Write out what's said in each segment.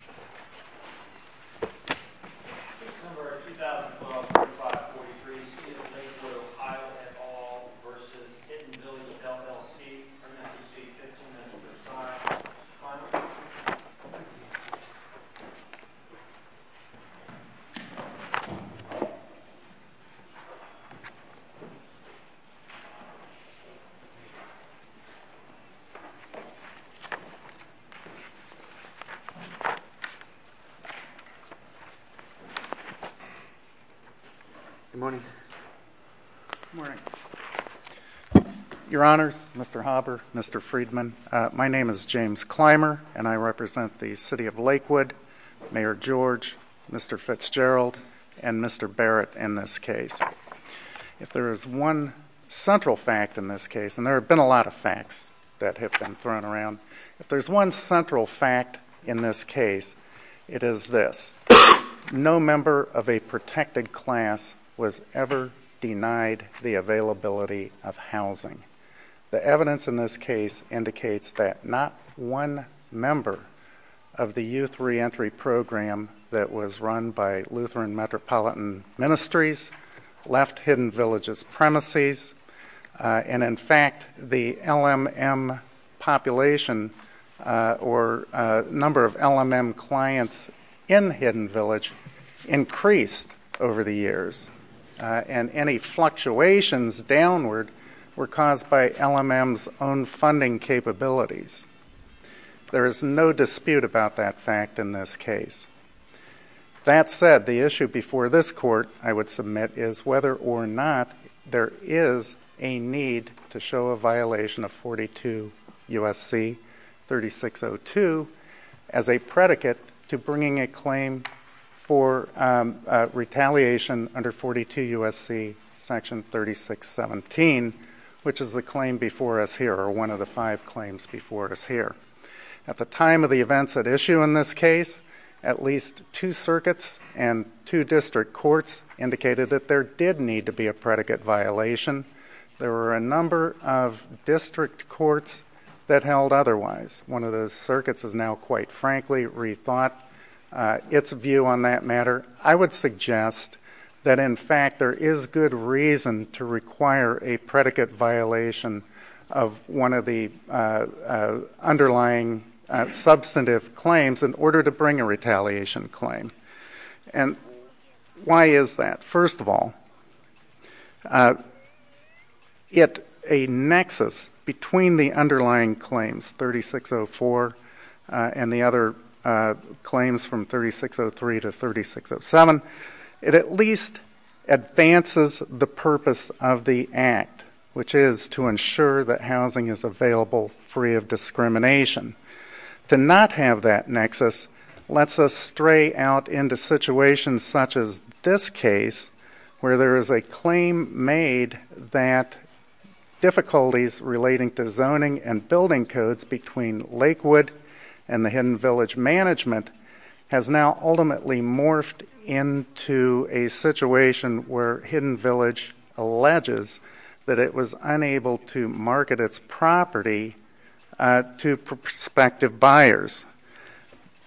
v. Hidden Village LLC James Clymer It is this. No member of a protected class was ever denied the availability of housing. The evidence in this case indicates that not one member of the youth reentry program that was run by Lutheran Metropolitan Ministries left Hidden Village's premises. In fact, the LMM population, or number of LMM clients in Hidden Village, increased over the years. Any fluctuations downward were caused by LMM's own funding capabilities. There is no dispute about that fact in this case. That said, the issue before this Court, I would submit, is whether or not there is a need to show a violation of 42 U.S.C. 3602 as a predicate to bringing a claim for retaliation under 42 U.S.C. section 3617, which is the claim before us here, or one of the five claims before us here. At the time of the events at issue in this case, at least two circuits and two district courts indicated that there did need to be a predicate violation. There were a number of district courts that held otherwise. One of those circuits has now, quite frankly, rethought its view on that matter. I would suggest that, in fact, there is good reason to require a predicate violation of one of the underlying substantive claims in order to bring a retaliation claim. And why is that? First of all, a nexus between the underlying claims, 3604 and the other claims from 3603 to 3607, it at least advances the purpose of the Act, which is to ensure that housing is available free of discrimination. To not have that nexus lets us stray out into situations such as this case, where there is a claim made that difficulties relating to zoning and building codes between Lakewood and the Hidden Village management has now ultimately morphed into a situation where Hidden Village alleges that it was unable to market its property to prospective buyers.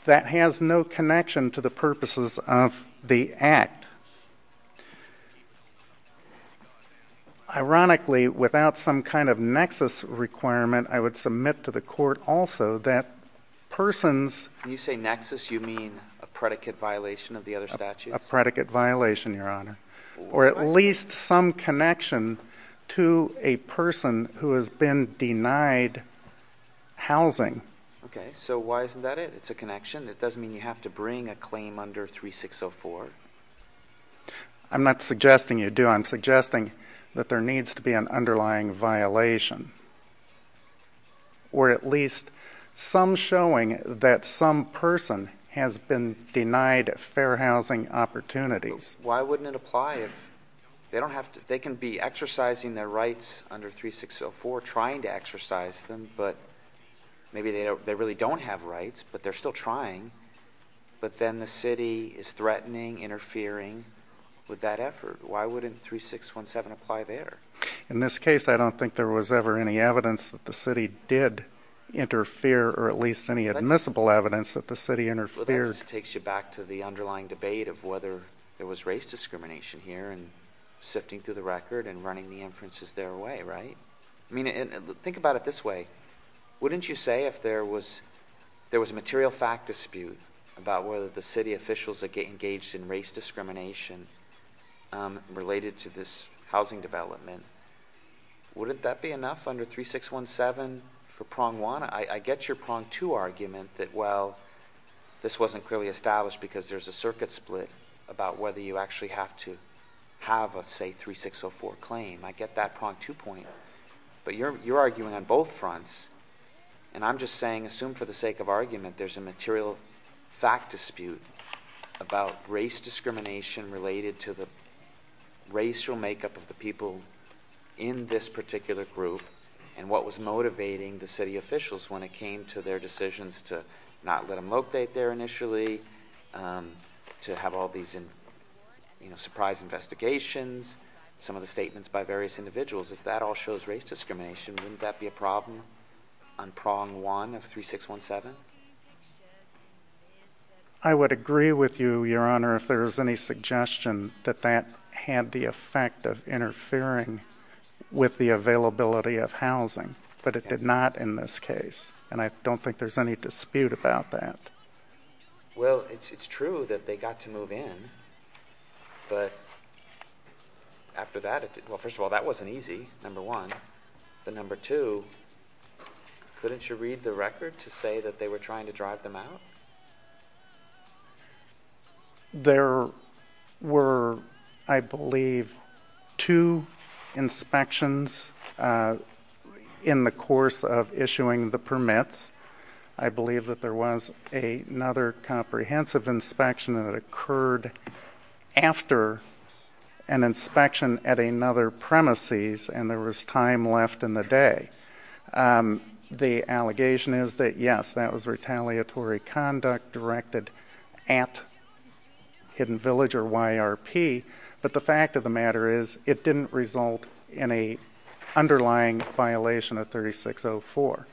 That has no connection to the purposes of the Act. Ironically, without some kind of nexus requirement, I would submit to the Court also that persons... When you say nexus, you mean a predicate violation of the other statutes? A predicate violation, Your Honor. Or at least some connection to a person who has been denied housing. Okay. So why isn't that it? It's a connection? It doesn't mean you have to bring a claim under 3604? I'm not suggesting you do. I'm suggesting that there needs to be an underlying violation. Or at least some showing that some person has been denied fair housing opportunities. Why wouldn't it apply? They can be exercising their rights under 3604, trying to exercise them, but maybe they really don't have rights, but they're still trying, but then the city is threatening, interfering with that effort. Why wouldn't 3617 apply there? In this case, I don't think there was ever any evidence that the city did interfere, or at least any admissible evidence that the city interfered. That just takes you back to the underlying debate of whether there was race discrimination here and sifting through the record and running the inferences their way, right? I mean, think about it this way. Wouldn't you say if there was a material fact dispute about whether the city officials engaged in race discrimination related to this housing development, wouldn't that be enough under 3617 for prong one? I get your prong two argument that, well, this wasn't clearly established because there's a circuit split about whether you actually have to have a, say, 3604 claim. I get that prong two point. But you're arguing on both fronts, and I'm just saying assume for the sake of argument there's a material fact dispute about race discrimination related to the racial makeup of the people in this particular group and what was motivating the city officials when it came to their decisions to not let them locate there initially, to have all these surprise investigations, some of the statements by various individuals. If that all shows race discrimination, wouldn't that be a problem on prong one of 3617? I would agree with you, Your Honor, if there was any suggestion that that had the effect of interfering with the availability of housing. But it did not in this case. And I don't think there's any dispute about that. Well, it's true that they got to move in. But after that, well, first of all, that wasn't easy, number one. But number two, couldn't you read the record to say that they were trying to drive them out? There were, I believe, two inspections in the course of issuing the permits. I believe that there was another comprehensive inspection that occurred after an inspection at another premises, and there was time left in the day. The allegation is that, yes, that was retaliatory conduct directed at Hidden Village or YRP. But the fact of the matter is, it didn't result in a underlying violation of 3604.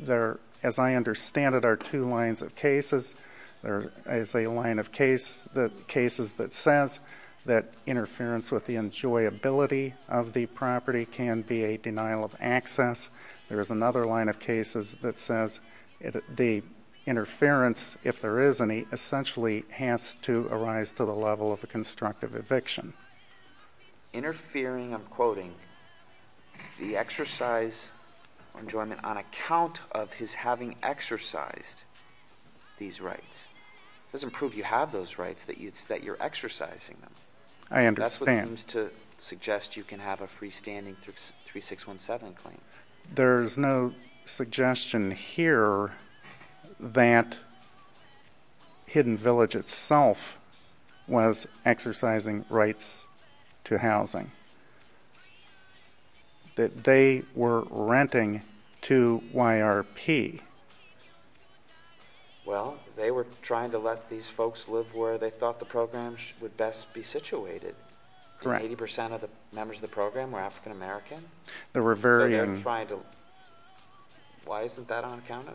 There, as I understand it, are two lines of cases. There is a line of cases that says that interference with the enjoyability of the property can be a denial of access. There is another line of cases that says the interference, if there is any, essentially has to arise to the level of a constructive eviction. Interfering, I'm quoting, the exercise enjoyment on account of his having exercised these rights. It doesn't prove you have those rights, that you're exercising them. I understand. That's what seems to suggest you can have a freestanding 3617 claim. There's no suggestion here that Hidden Village itself was exercising rights to housing. That they were renting to YRP. Well, they were trying to let these folks live where they thought the program would best be situated. 80% of the members of the program were African American. They were varying. Why isn't that on account of?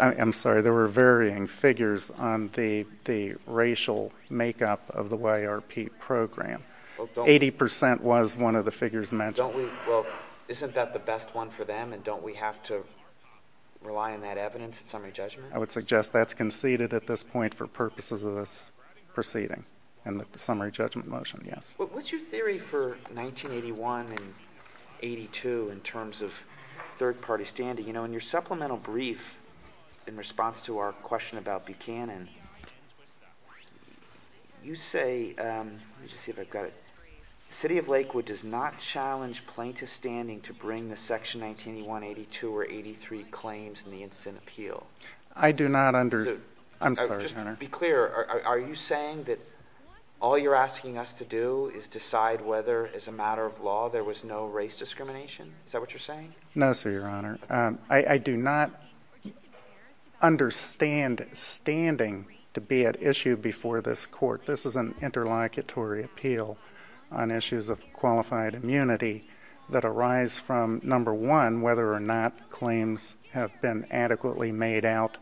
I'm sorry. There were varying figures on the racial makeup of the YRP program. 80% was one of the figures mentioned. Well, isn't that the best one for them, and don't we have to rely on that evidence in summary judgment? I would suggest that's conceded at this point for purposes of this proceeding and the summary judgment motion, yes. What's your theory for 1981 and 82 in terms of third-party standing? In your supplemental brief in response to our question about Buchanan, you say, let me just see if I've got it, the city of Lakewood does not challenge plaintiff standing to bring the section 1981-82 or 83 claims in the incident appeal. I do not under—I'm sorry, your honor. To be clear, are you saying that all you're asking us to do is decide whether as a matter of law there was no race discrimination? Is that what you're saying? No, sir, your honor. I do not understand standing to be at issue before this court. This is an interlocutory appeal on issues of qualified immunity that arise from, number one, whether or not claims have been adequately made out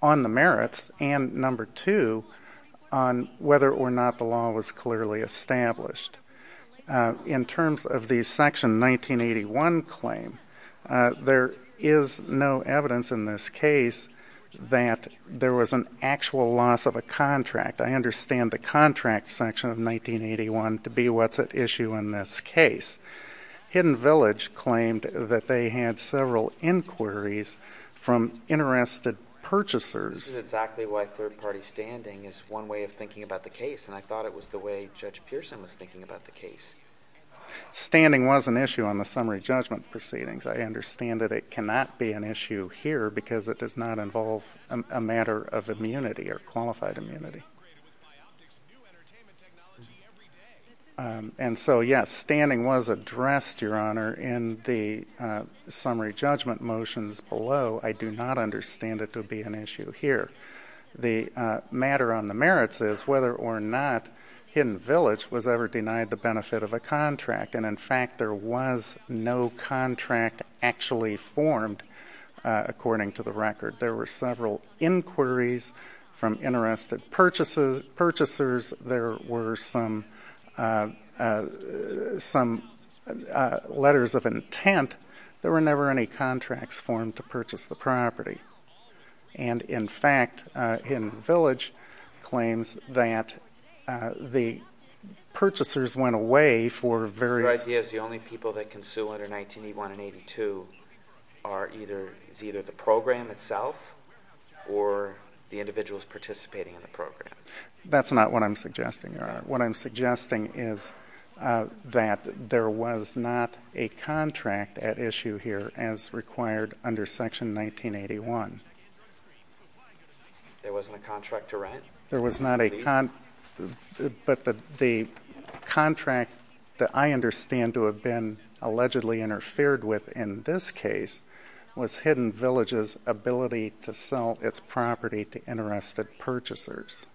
on the merits, and, number two, on whether or not the law was clearly established. In terms of the section 1981 claim, there is no evidence in this case that there was an actual loss of a contract. I understand the contract section of 1981 to be what's at issue in this case. Hidden Village claimed that they had several inquiries from interested purchasers. This is exactly why third-party standing is one way of thinking about the case, and I thought it was the way Judge Pearson was thinking about the case. Standing was an issue on the summary judgment proceedings. I understand that it cannot be an issue here because it does not involve a matter of immunity or qualified immunity. And so, yes, standing was addressed, your honor, in the summary judgment motions below. I do not understand it to be an issue here. The matter on the merits is whether or not Hidden Village was ever denied the benefit of a contract, and, in fact, there was no contract actually formed, according to the record. There were several inquiries from interested purchasers. There were some letters of intent. There were never any contracts formed to purchase the property. And, in fact, Hidden Village claims that the purchasers went away for various— Your idea is the only people that can sue under 1981 and 1982 are either the program itself or the individuals participating in the program. That's not what I'm suggesting, your honor. What I'm suggesting is that there was not a contract at issue here as required under Section 1981. There wasn't a contract to rent? There was not a—but the contract that I understand to have been allegedly interfered with in this case was Hidden Village's ability to sell its property to interested purchasers.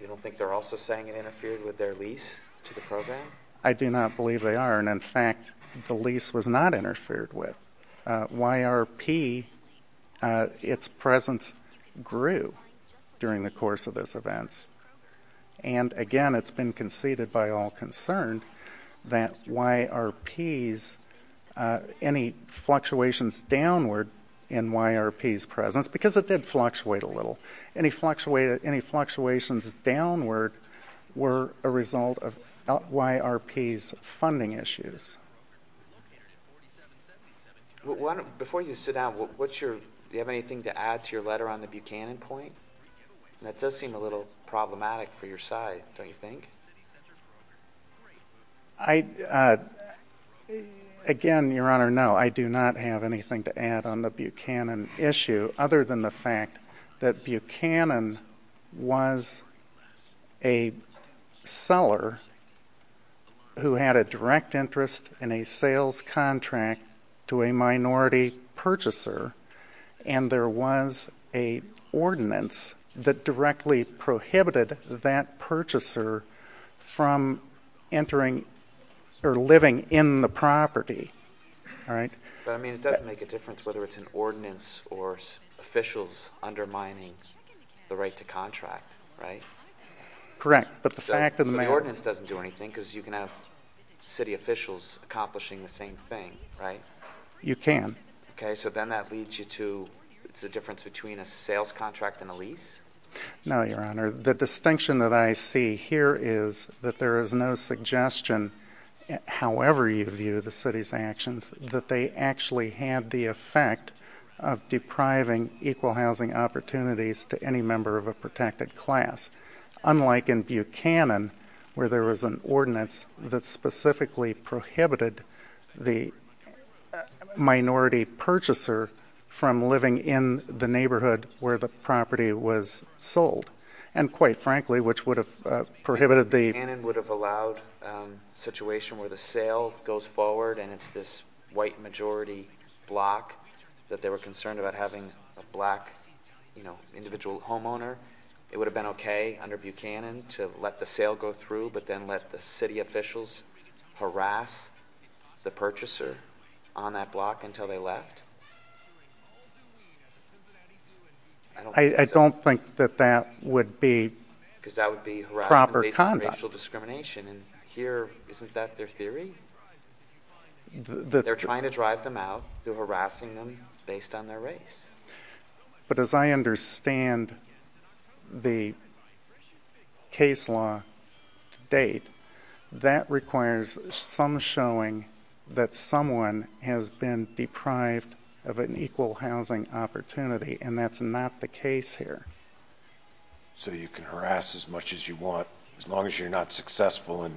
You don't think they're also saying it interfered with their lease to the program? I do not believe they are, and, in fact, the lease was not interfered with. YRP, its presence grew during the course of those events. And, again, it's been conceded by all concerned that YRP's—any fluctuations downward in YRP's presence, because it did fluctuate a little, any fluctuations downward were a result of YRP's funding issues. Before you sit down, what's your—do you have anything to add to your letter on the Buchanan point? That does seem a little problematic for your side, don't you think? I—again, your honor, no, I do not have anything to add on the Buchanan issue other than the fact that Buchanan was a seller who had a direct interest in a sales contract to a minority purchaser, and there was an ordinance that directly prohibited that purchaser from entering or living in the property. But, I mean, it doesn't make a difference whether it's an ordinance or officials undermining the right to contract, right? Correct, but the fact of the matter— But the ordinance doesn't do anything, because you can have city officials accomplishing the same thing, right? You can. Okay, so then that leads you to—it's the difference between a sales contract and a lease? No, your honor. The distinction that I see here is that there is no suggestion, however you view the city's actions, that they actually had the effect of depriving equal housing opportunities to any member of a protected class. Unlike in Buchanan, where there was an ordinance that specifically prohibited the minority purchaser from living in the neighborhood where the property was sold. And quite frankly, which would have prohibited the— Buchanan would have allowed a situation where the sale goes forward, and it's this white majority block that they were concerned about having a black individual homeowner. It would have been okay under Buchanan to let the sale go through, but then let the city officials harass the purchaser on that block until they left. I don't think that that would be proper conduct. Because that would be harassment based on racial discrimination, and here, isn't that their theory? They're trying to drive them out. They're harassing them based on their race. But as I understand the case law to date, that requires some showing that someone has been deprived of an equal housing opportunity, and that's not the case here. So you can harass as much as you want, as long as you're not successful in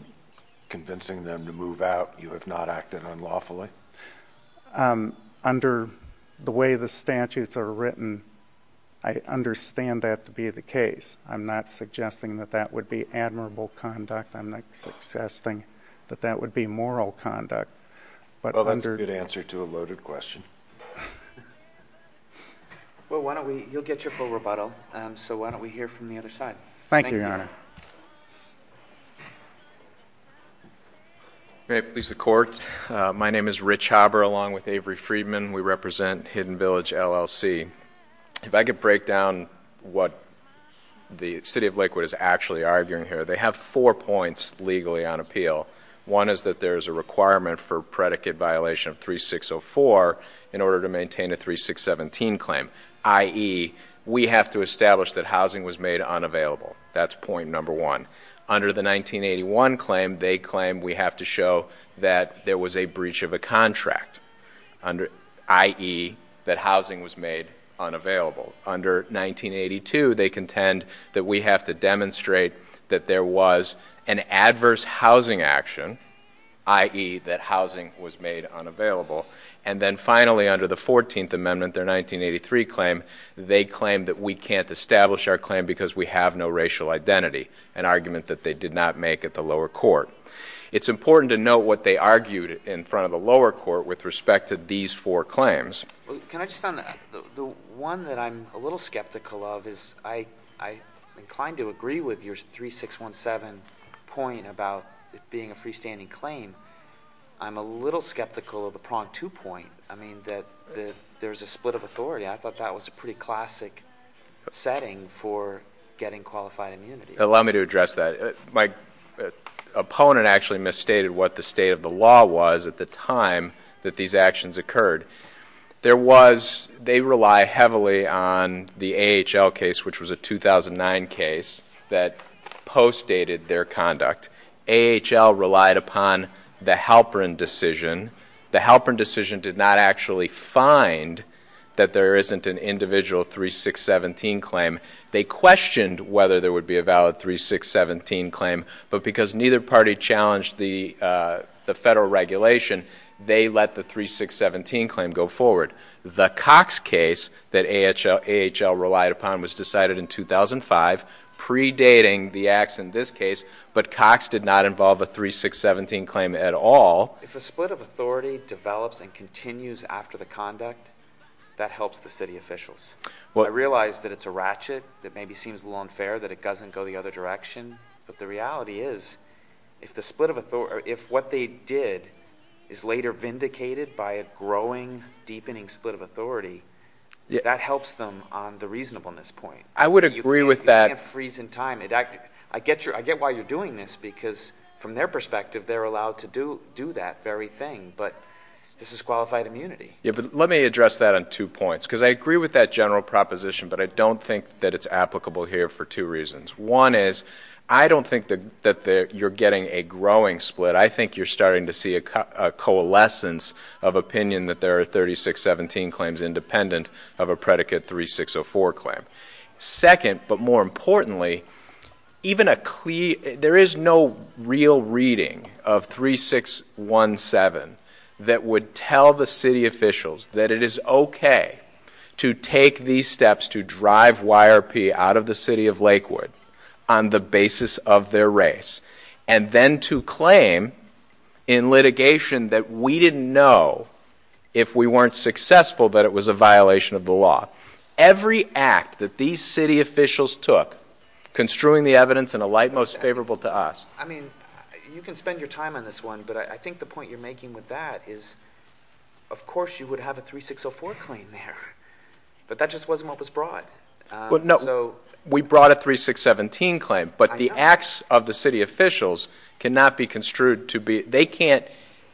convincing them to move out, you have not acted unlawfully? Under the way the statutes are written, I understand that to be the case. I'm not suggesting that that would be admirable conduct. I'm not suggesting that that would be moral conduct. Well, that's a good answer to a loaded question. Well, why don't we—you'll get your full rebuttal. So why don't we hear from the other side? Thank you, Your Honor. May it please the Court. My name is Rich Haber, along with Avery Friedman. We represent Hidden Village LLC. If I could break down what the City of Lakewood is actually arguing here, they have four points legally on appeal. One is that there is a requirement for predicate violation of 3604 in order to maintain a 3617 claim, i.e., we have to establish that housing was made unavailable. That's point number one. Under the 1981 claim, they claim we have to show that there was a breach of a contract, i.e., that housing was made unavailable. Under 1982, they contend that we have to demonstrate that there was an adverse housing action, i.e., that housing was made unavailable. And then finally, under the 14th Amendment, their 1983 claim, they claim that we can't establish our claim because we have no racial identity. An argument that they did not make at the lower court. It's important to note what they argued in front of the lower court with respect to these four claims. Can I just add that the one that I'm a little skeptical of is I'm inclined to agree with your 3617 point about it being a freestanding claim. I'm a little skeptical of the prompt two point, I mean, that there's a split of authority. I thought that was a pretty classic setting for getting qualified immunity. Allow me to address that. My opponent actually misstated what the state of the law was at the time that these actions occurred. There was, they rely heavily on the AHL case, which was a 2009 case, that postdated their conduct. AHL relied upon the Halperin decision. The Halperin decision did not actually find that there isn't an individual 3617 claim. They questioned whether there would be a valid 3617 claim, but because neither party challenged the federal regulation, they let the 3617 claim go forward. The Cox case that AHL relied upon was decided in 2005, predating the acts in this case, but Cox did not involve a 3617 claim at all. If a split of authority develops and continues after the conduct, that helps the city officials. I realize that it's a ratchet that maybe seems a little unfair that it doesn't go the other direction, but the reality is if what they did is later vindicated by a growing, deepening split of authority, that helps them on the reasonableness point. I would agree with that. You can't freeze in time. I get why you're doing this because from their perspective, they're allowed to do that very thing, but this is qualified immunity. Yeah, but let me address that on two points because I agree with that general proposition, but I don't think that it's applicable here for two reasons. One is I don't think that you're getting a growing split. I think you're starting to see a coalescence of opinion that there are 3617 claims independent of a predicate 3604 claim. Second, but more importantly, there is no real reading of 3617 that would tell the city officials that it is okay to take these steps to drive YRP out of the city of Lakewood on the basis of their race and then to claim in litigation that we didn't know if we weren't successful that it was a violation of the law. Every act that these city officials took, construing the evidence in a light most favorable to us. I mean, you can spend your time on this one, but I think the point you're making with that is, of course, you would have a 3604 claim there, but that just wasn't what was brought. No, we brought a 3617 claim, but the acts of the city officials cannot be construed to be, they can't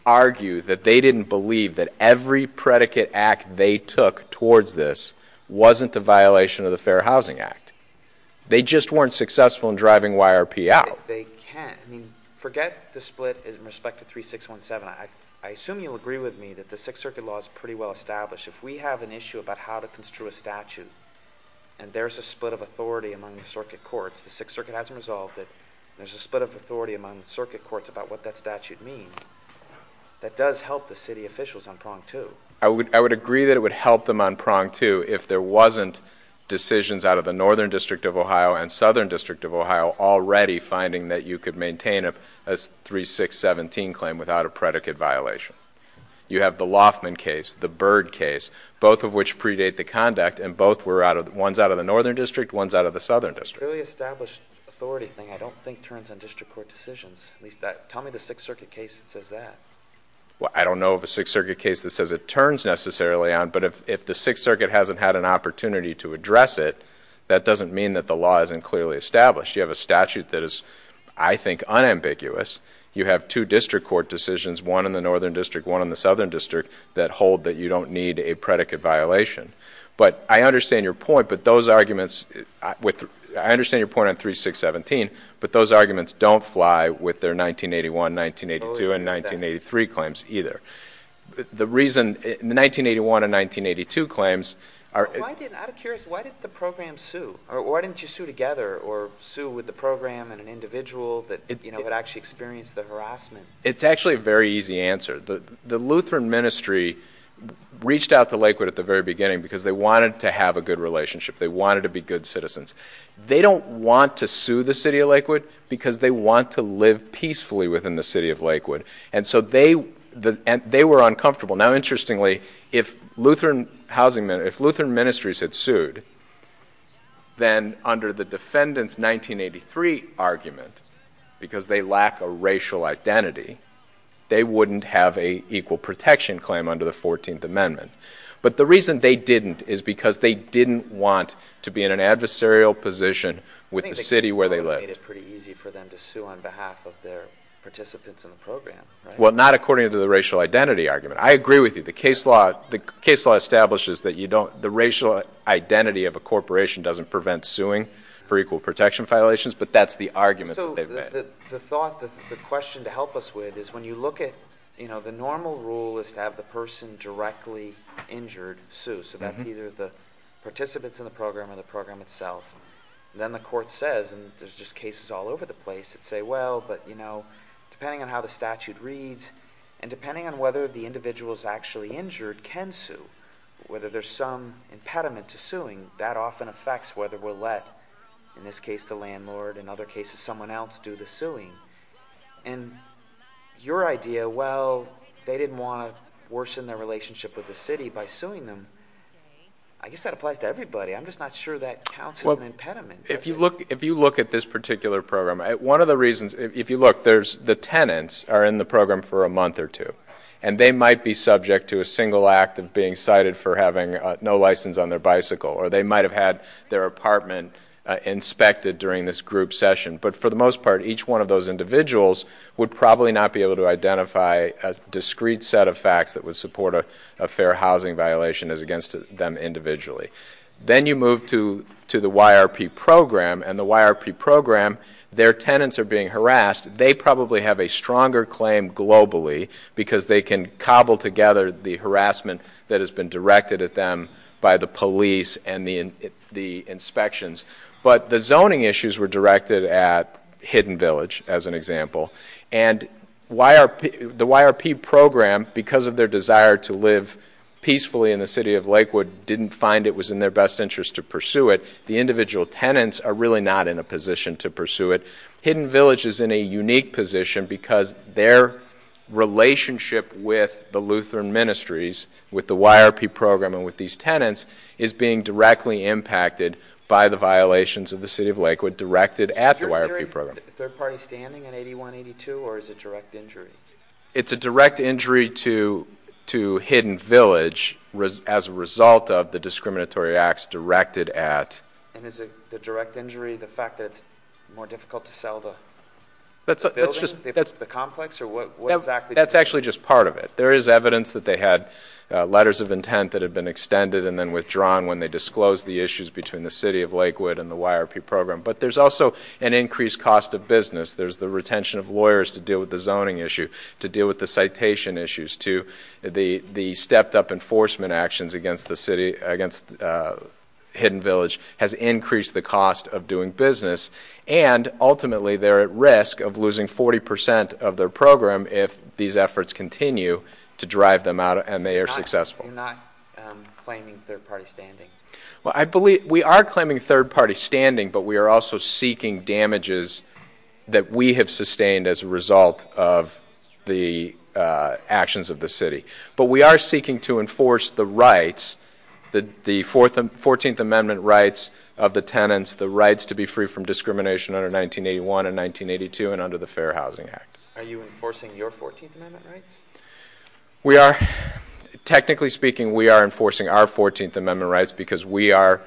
argue that they didn't believe that every predicate act they took towards this wasn't a violation of the Fair Housing Act. They just weren't successful in driving YRP out. They can't. I mean, forget the split in respect to 3617. I assume you'll agree with me that the Sixth Circuit law is pretty well established. If we have an issue about how to construe a statute and there's a split of authority among the circuit courts, the Sixth Circuit hasn't resolved it, and there's a split of authority among the circuit courts about what that statute means, that does help the city officials on prong two. I would agree that it would help them on prong two if there wasn't decisions out of the Northern District of Ohio and Southern District of Ohio already finding that you could maintain a 3617 claim without a predicate violation. You have the Loffman case, the Byrd case, both of which predate the conduct, and both were out of, one's out of the Northern District, one's out of the Southern District. The clearly established authority thing I don't think turns on district court decisions. At least, tell me the Sixth Circuit case that says that. Well, I don't know of a Sixth Circuit case that says it turns necessarily on, but if the Sixth Circuit hasn't had an opportunity to address it, that doesn't mean that the law isn't clearly established. You have a statute that is, I think, unambiguous. You have two district court decisions, one in the Northern District, one in the Southern District, that hold that you don't need a predicate violation. But I understand your point, but those arguments, I understand your point on 3617, but those arguments don't fly with their 1981, 1982, and 1983 claims either. The reason, the 1981 and 1982 claims are. I'm curious, why didn't the program sue? Why didn't you sue together or sue with the program and an individual that actually experienced the harassment? It's actually a very easy answer. The Lutheran ministry reached out to Lakewood at the very beginning because they wanted to have a good relationship. They wanted to be good citizens. They don't want to sue the city of Lakewood because they want to live peacefully within the city of Lakewood. And so they were uncomfortable. Now, interestingly, if Lutheran ministries had sued, then under the defendant's 1983 argument, because they lack a racial identity, they wouldn't have an equal protection claim under the 14th Amendment. But the reason they didn't is because they didn't want to be in an adversarial position with the city where they lived. I think the case law made it pretty easy for them to sue on behalf of their participants in the program, right? Well, not according to the racial identity argument. I agree with you. The case law establishes that the racial identity of a corporation doesn't prevent suing for equal protection violations, but that's the argument that they made. So the thought, the question to help us with is when you look at, you know, the normal rule is to have the person directly injured sue. So that's either the participants in the program or the program itself. Then the court says, and there's just cases all over the place that say, well, but, you know, depending on how the statute reads and depending on whether the individual is actually injured can sue, whether there's some impediment to suing, that often affects whether we're let, in this case the landlord, in other cases someone else do the suing. And your idea, well, they didn't want to worsen their relationship with the city by suing them. I guess that applies to everybody. I'm just not sure that counts as an impediment. If you look at this particular program, one of the reasons, if you look, there's the tenants are in the program for a month or two, and they might be subject to a single act of being cited for having no license on their bicycle, or they might have had their apartment inspected during this group session. But for the most part, each one of those individuals would probably not be able to identify a discrete set of facts that would support a fair housing violation as against them individually. Then you move to the YRP program, and the YRP program, their tenants are being harassed. They probably have a stronger claim globally because they can cobble together the harassment that has been directed at them by the police and the inspections. But the zoning issues were directed at Hidden Village, as an example. And the YRP program, because of their desire to live peacefully in the city of Lakewood, didn't find it was in their best interest to pursue it. The individual tenants are really not in a position to pursue it. Hidden Village is in a unique position because their relationship with the Lutheran ministries, with the YRP program, and with these tenants, is being directly impacted by the violations of the city of Lakewood directed at the YRP program. Is your hearing third-party standing in 8182, or is it direct injury? It's a direct injury to Hidden Village as a result of the discriminatory acts directed at... And is the direct injury the fact that it's more difficult to sell the building, the complex? That's actually just part of it. There is evidence that they had letters of intent that had been extended and then withdrawn when they disclosed the issues between the city of Lakewood and the YRP program. But there's also an increased cost of business. There's the retention of lawyers to deal with the zoning issue, to deal with the citation issues, to the stepped-up enforcement actions against Hidden Village has increased the cost of doing business. And ultimately, they're at risk of losing 40% of their program if these efforts continue to drive them out and they are successful. You're not claiming third-party standing? We are claiming third-party standing, but we are also seeking damages that we have sustained as a result of the actions of the city. But we are seeking to enforce the rights, the 14th Amendment rights of the tenants, the rights to be free from discrimination under 1981 and 1982 and under the Fair Housing Act. Are you enforcing your 14th Amendment rights? We are. Technically speaking, we are enforcing our 14th Amendment rights because we are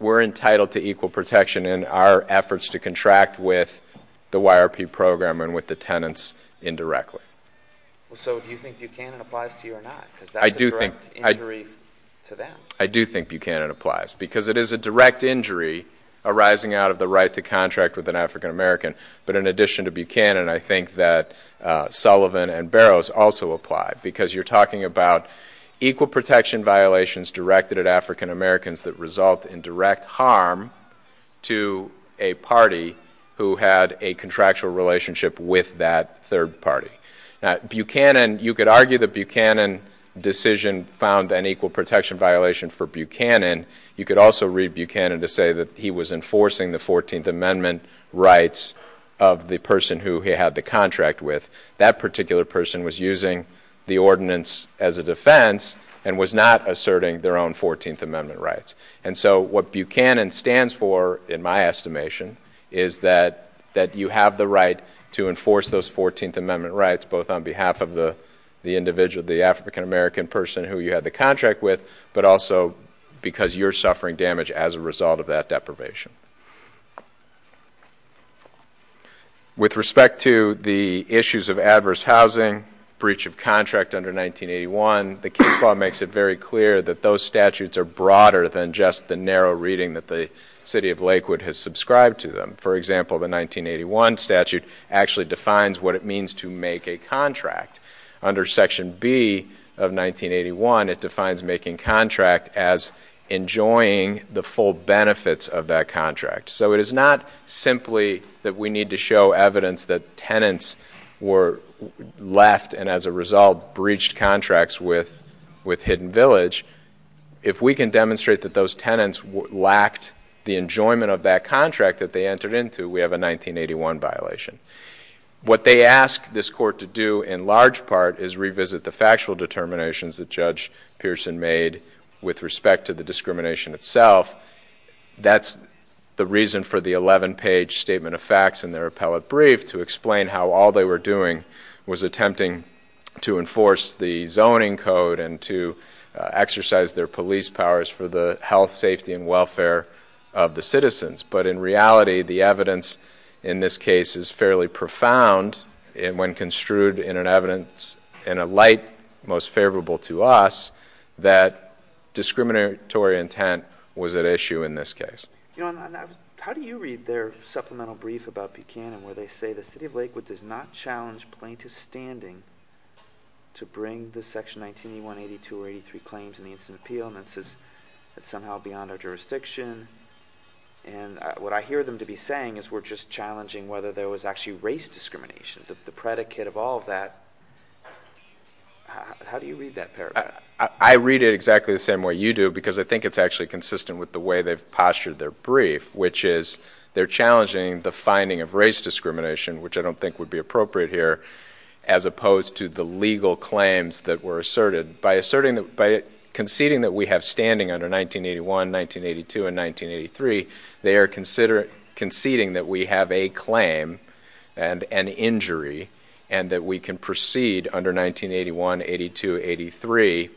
entitled to equal protection in our efforts to contract with the YRP program and with the tenants indirectly. So do you think Buchanan applies to you or not? Because that's a direct injury to them. I do think Buchanan applies because it is a direct injury arising out of the right to contract with an African-American. But in addition to Buchanan, I think that Sullivan and Barrows also apply because you're talking about equal protection violations directed at African-Americans that result in direct harm to a party who had a contractual relationship with that third party. Now, Buchanan, you could argue that Buchanan's decision found an equal protection violation for Buchanan. You could also read Buchanan to say that he was enforcing the 14th Amendment rights of the person who he had the contract with. That particular person was using the ordinance as a defense and was not asserting their own 14th Amendment rights. And so what Buchanan stands for, in my estimation, is that you have the right to enforce those 14th Amendment rights, both on behalf of the individual, the African-American person who you had the contract with, but also because you're suffering damage as a result of that deprivation. With respect to the issues of adverse housing, breach of contract under 1981, the case law makes it very clear that those statutes are broader than just the narrow reading that the city of Lakewood has subscribed to them. For example, the 1981 statute actually defines what it means to make a contract. Under Section B of 1981, it defines making contract as enjoying the full benefits of that contract. So it is not simply that we need to show evidence that tenants were left and, as a result, breached contracts with Hidden Village. If we can demonstrate that those tenants lacked the enjoyment of that contract that they entered into, we have a 1981 violation. What they ask this court to do, in large part, is revisit the factual determinations that Judge Pearson made with respect to the discrimination itself. That's the reason for the 11-page statement of facts in their appellate brief to explain how all they were doing was attempting to enforce the zoning code and to exercise their police powers for the health, safety, and welfare of the citizens. But in reality, the evidence in this case is fairly profound when construed in an evidence in a light most favorable to us that discriminatory intent was at issue in this case. How do you read their supplemental brief about Buchanan where they say the city of Lakewood does not challenge plaintiff's standing to bring the Section 1981, 82, or 83 claims in the Instant Appeal that's somehow beyond our jurisdiction? And what I hear them to be saying is we're just challenging whether there was actually race discrimination. The predicate of all of that, how do you read that paragraph? I read it exactly the same way you do because I think it's actually consistent with the way they've postured their brief, which is they're challenging the finding of race discrimination, which I don't think would be appropriate here, as opposed to the legal claims that were asserted. By conceding that we have standing under 1981, 1982, and 1983, they are conceding that we have a claim and an injury and that we can proceed under 1981, 82, 83,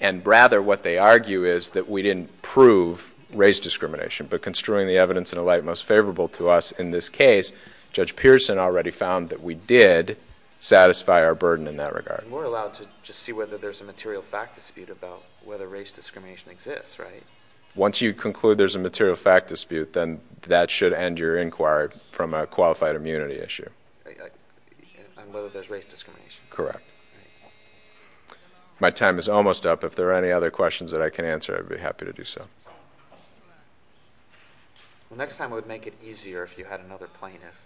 and rather what they argue is that we didn't prove race discrimination. But construing the evidence in a light most favorable to us in this case, Judge Pearson already found that we did satisfy our burden in that regard. And we're allowed to just see whether there's a material fact dispute about whether race discrimination exists, right? Once you conclude there's a material fact dispute, then that should end your inquiry from a qualified immunity issue. On whether there's race discrimination? Correct. My time is almost up. If there are any other questions that I can answer, I'd be happy to do so. Well, next time it would make it easier if you had another plaintiff.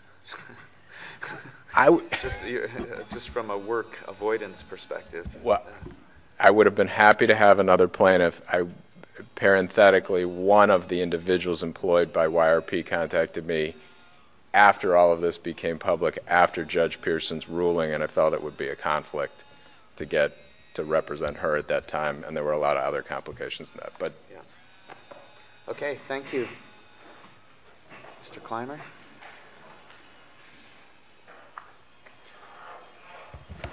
Just from a work avoidance perspective. I would have been happy to have another plaintiff. Parenthetically, one of the individuals employed by YRP contacted me after all of this became public, after Judge Pearson's ruling, and I felt it would be a conflict to represent her at that time, and there were a lot of other complications in that. Okay. Thank you. Mr. Kleiner.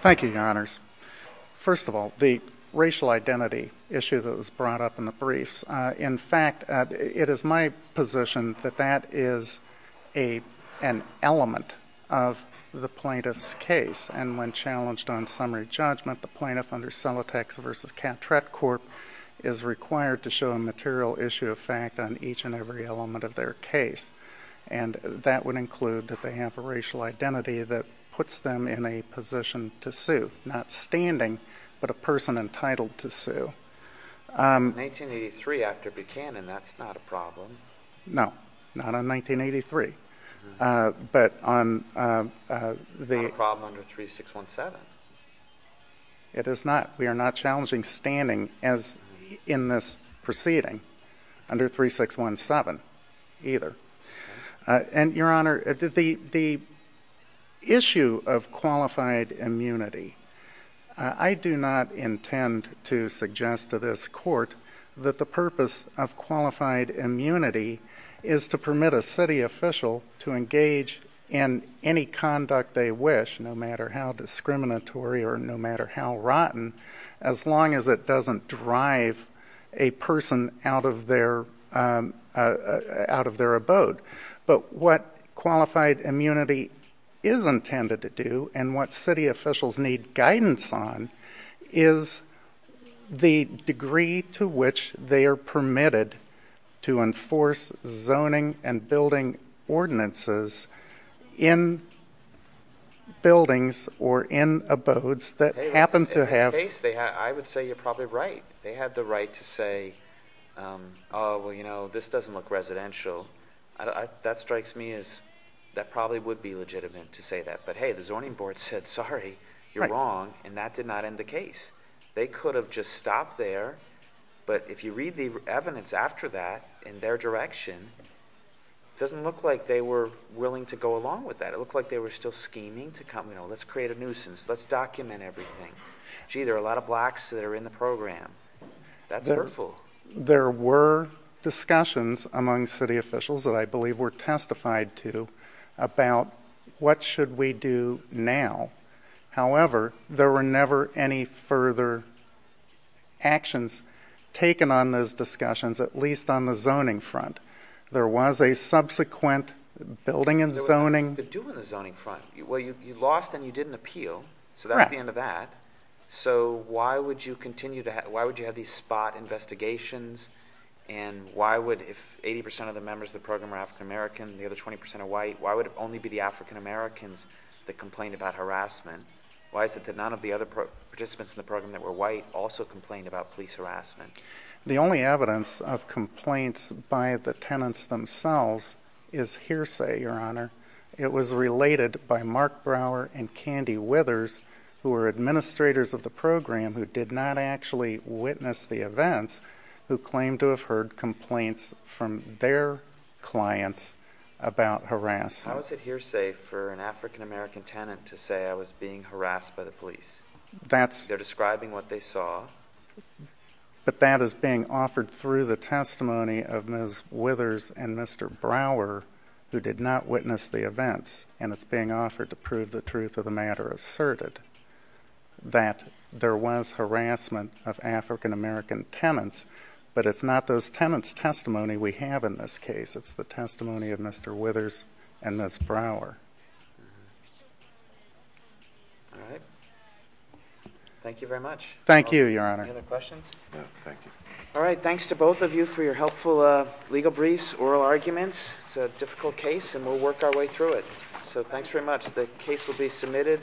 Thank you, Your Honors. First of all, the racial identity issue that was brought up in the briefs, in fact, it is my position that that is an element of the plaintiff's case, and when challenged on summary judgment, the plaintiff under Celotex v. Catrett Corp. is required to show a material issue of fact on each and every element of their case, and that would include that they have a racial identity that puts them in a position to sue, not standing, but a person entitled to sue. In 1983, after Buchanan, that's not a problem. No, not in 1983. Not a problem under 3617. It is not. We are not challenging standing in this proceeding under 3617 either. And, Your Honor, the issue of qualified immunity, I do not intend to suggest to this court that the purpose of qualified immunity is to permit a city official to engage in any conduct they wish, no matter how discriminatory or no matter how rotten, as long as it doesn't drive a person out of their abode. But what qualified immunity is intended to do and what city officials need guidance on is the degree to which they are permitted to enforce zoning and building ordinances in buildings or in abodes that happen to have... In that case, I would say you're probably right. They have the right to say, oh, well, you know, this doesn't look residential. That strikes me as that probably would be legitimate to say that. But, hey, the zoning board said, sorry, you're wrong, and that did not end the case. They could have just stopped there. But if you read the evidence after that in their direction, it doesn't look like they were willing to go along with that. It looked like they were still scheming to come, you know, let's create a nuisance. Let's document everything. Gee, there are a lot of blacks that are in the program. That's hurtful. There were discussions among city officials that I believe were testified to about what should we do now. However, there were never any further actions taken on those discussions, at least on the zoning front. There was a subsequent building and zoning... There was nothing to do on the zoning front. Well, you lost and you didn't appeal, so that's the end of that. So why would you have these spot investigations? And why would, if 80% of the members of the program are African American and the other 20% are white, why would it only be the African Americans that complained about harassment? Why is it that none of the other participants in the program that were white also complained about police harassment? The only evidence of complaints by the tenants themselves is hearsay, Your Honor. It was related by Mark Brower and Candy Withers, who were administrators of the program who did not actually witness the events, who claimed to have heard complaints from their clients about harassment. How is it hearsay for an African American tenant to say, I was being harassed by the police? They're describing what they saw. But that is being offered through the testimony of Ms. Withers and Mr. Brower, who did not witness the events, and it's being offered to prove the truth of the matter asserted, that there was harassment of African American tenants, but it's not those tenants' testimony we have in this case. It's the testimony of Mr. Withers and Ms. Brower. All right. Thank you very much. Thank you, Your Honor. Any other questions? No, thank you. All right, thanks to both of you for your helpful legal briefs, oral arguments. It's a difficult case, and we'll work our way through it. So thanks very much. The case will be submitted.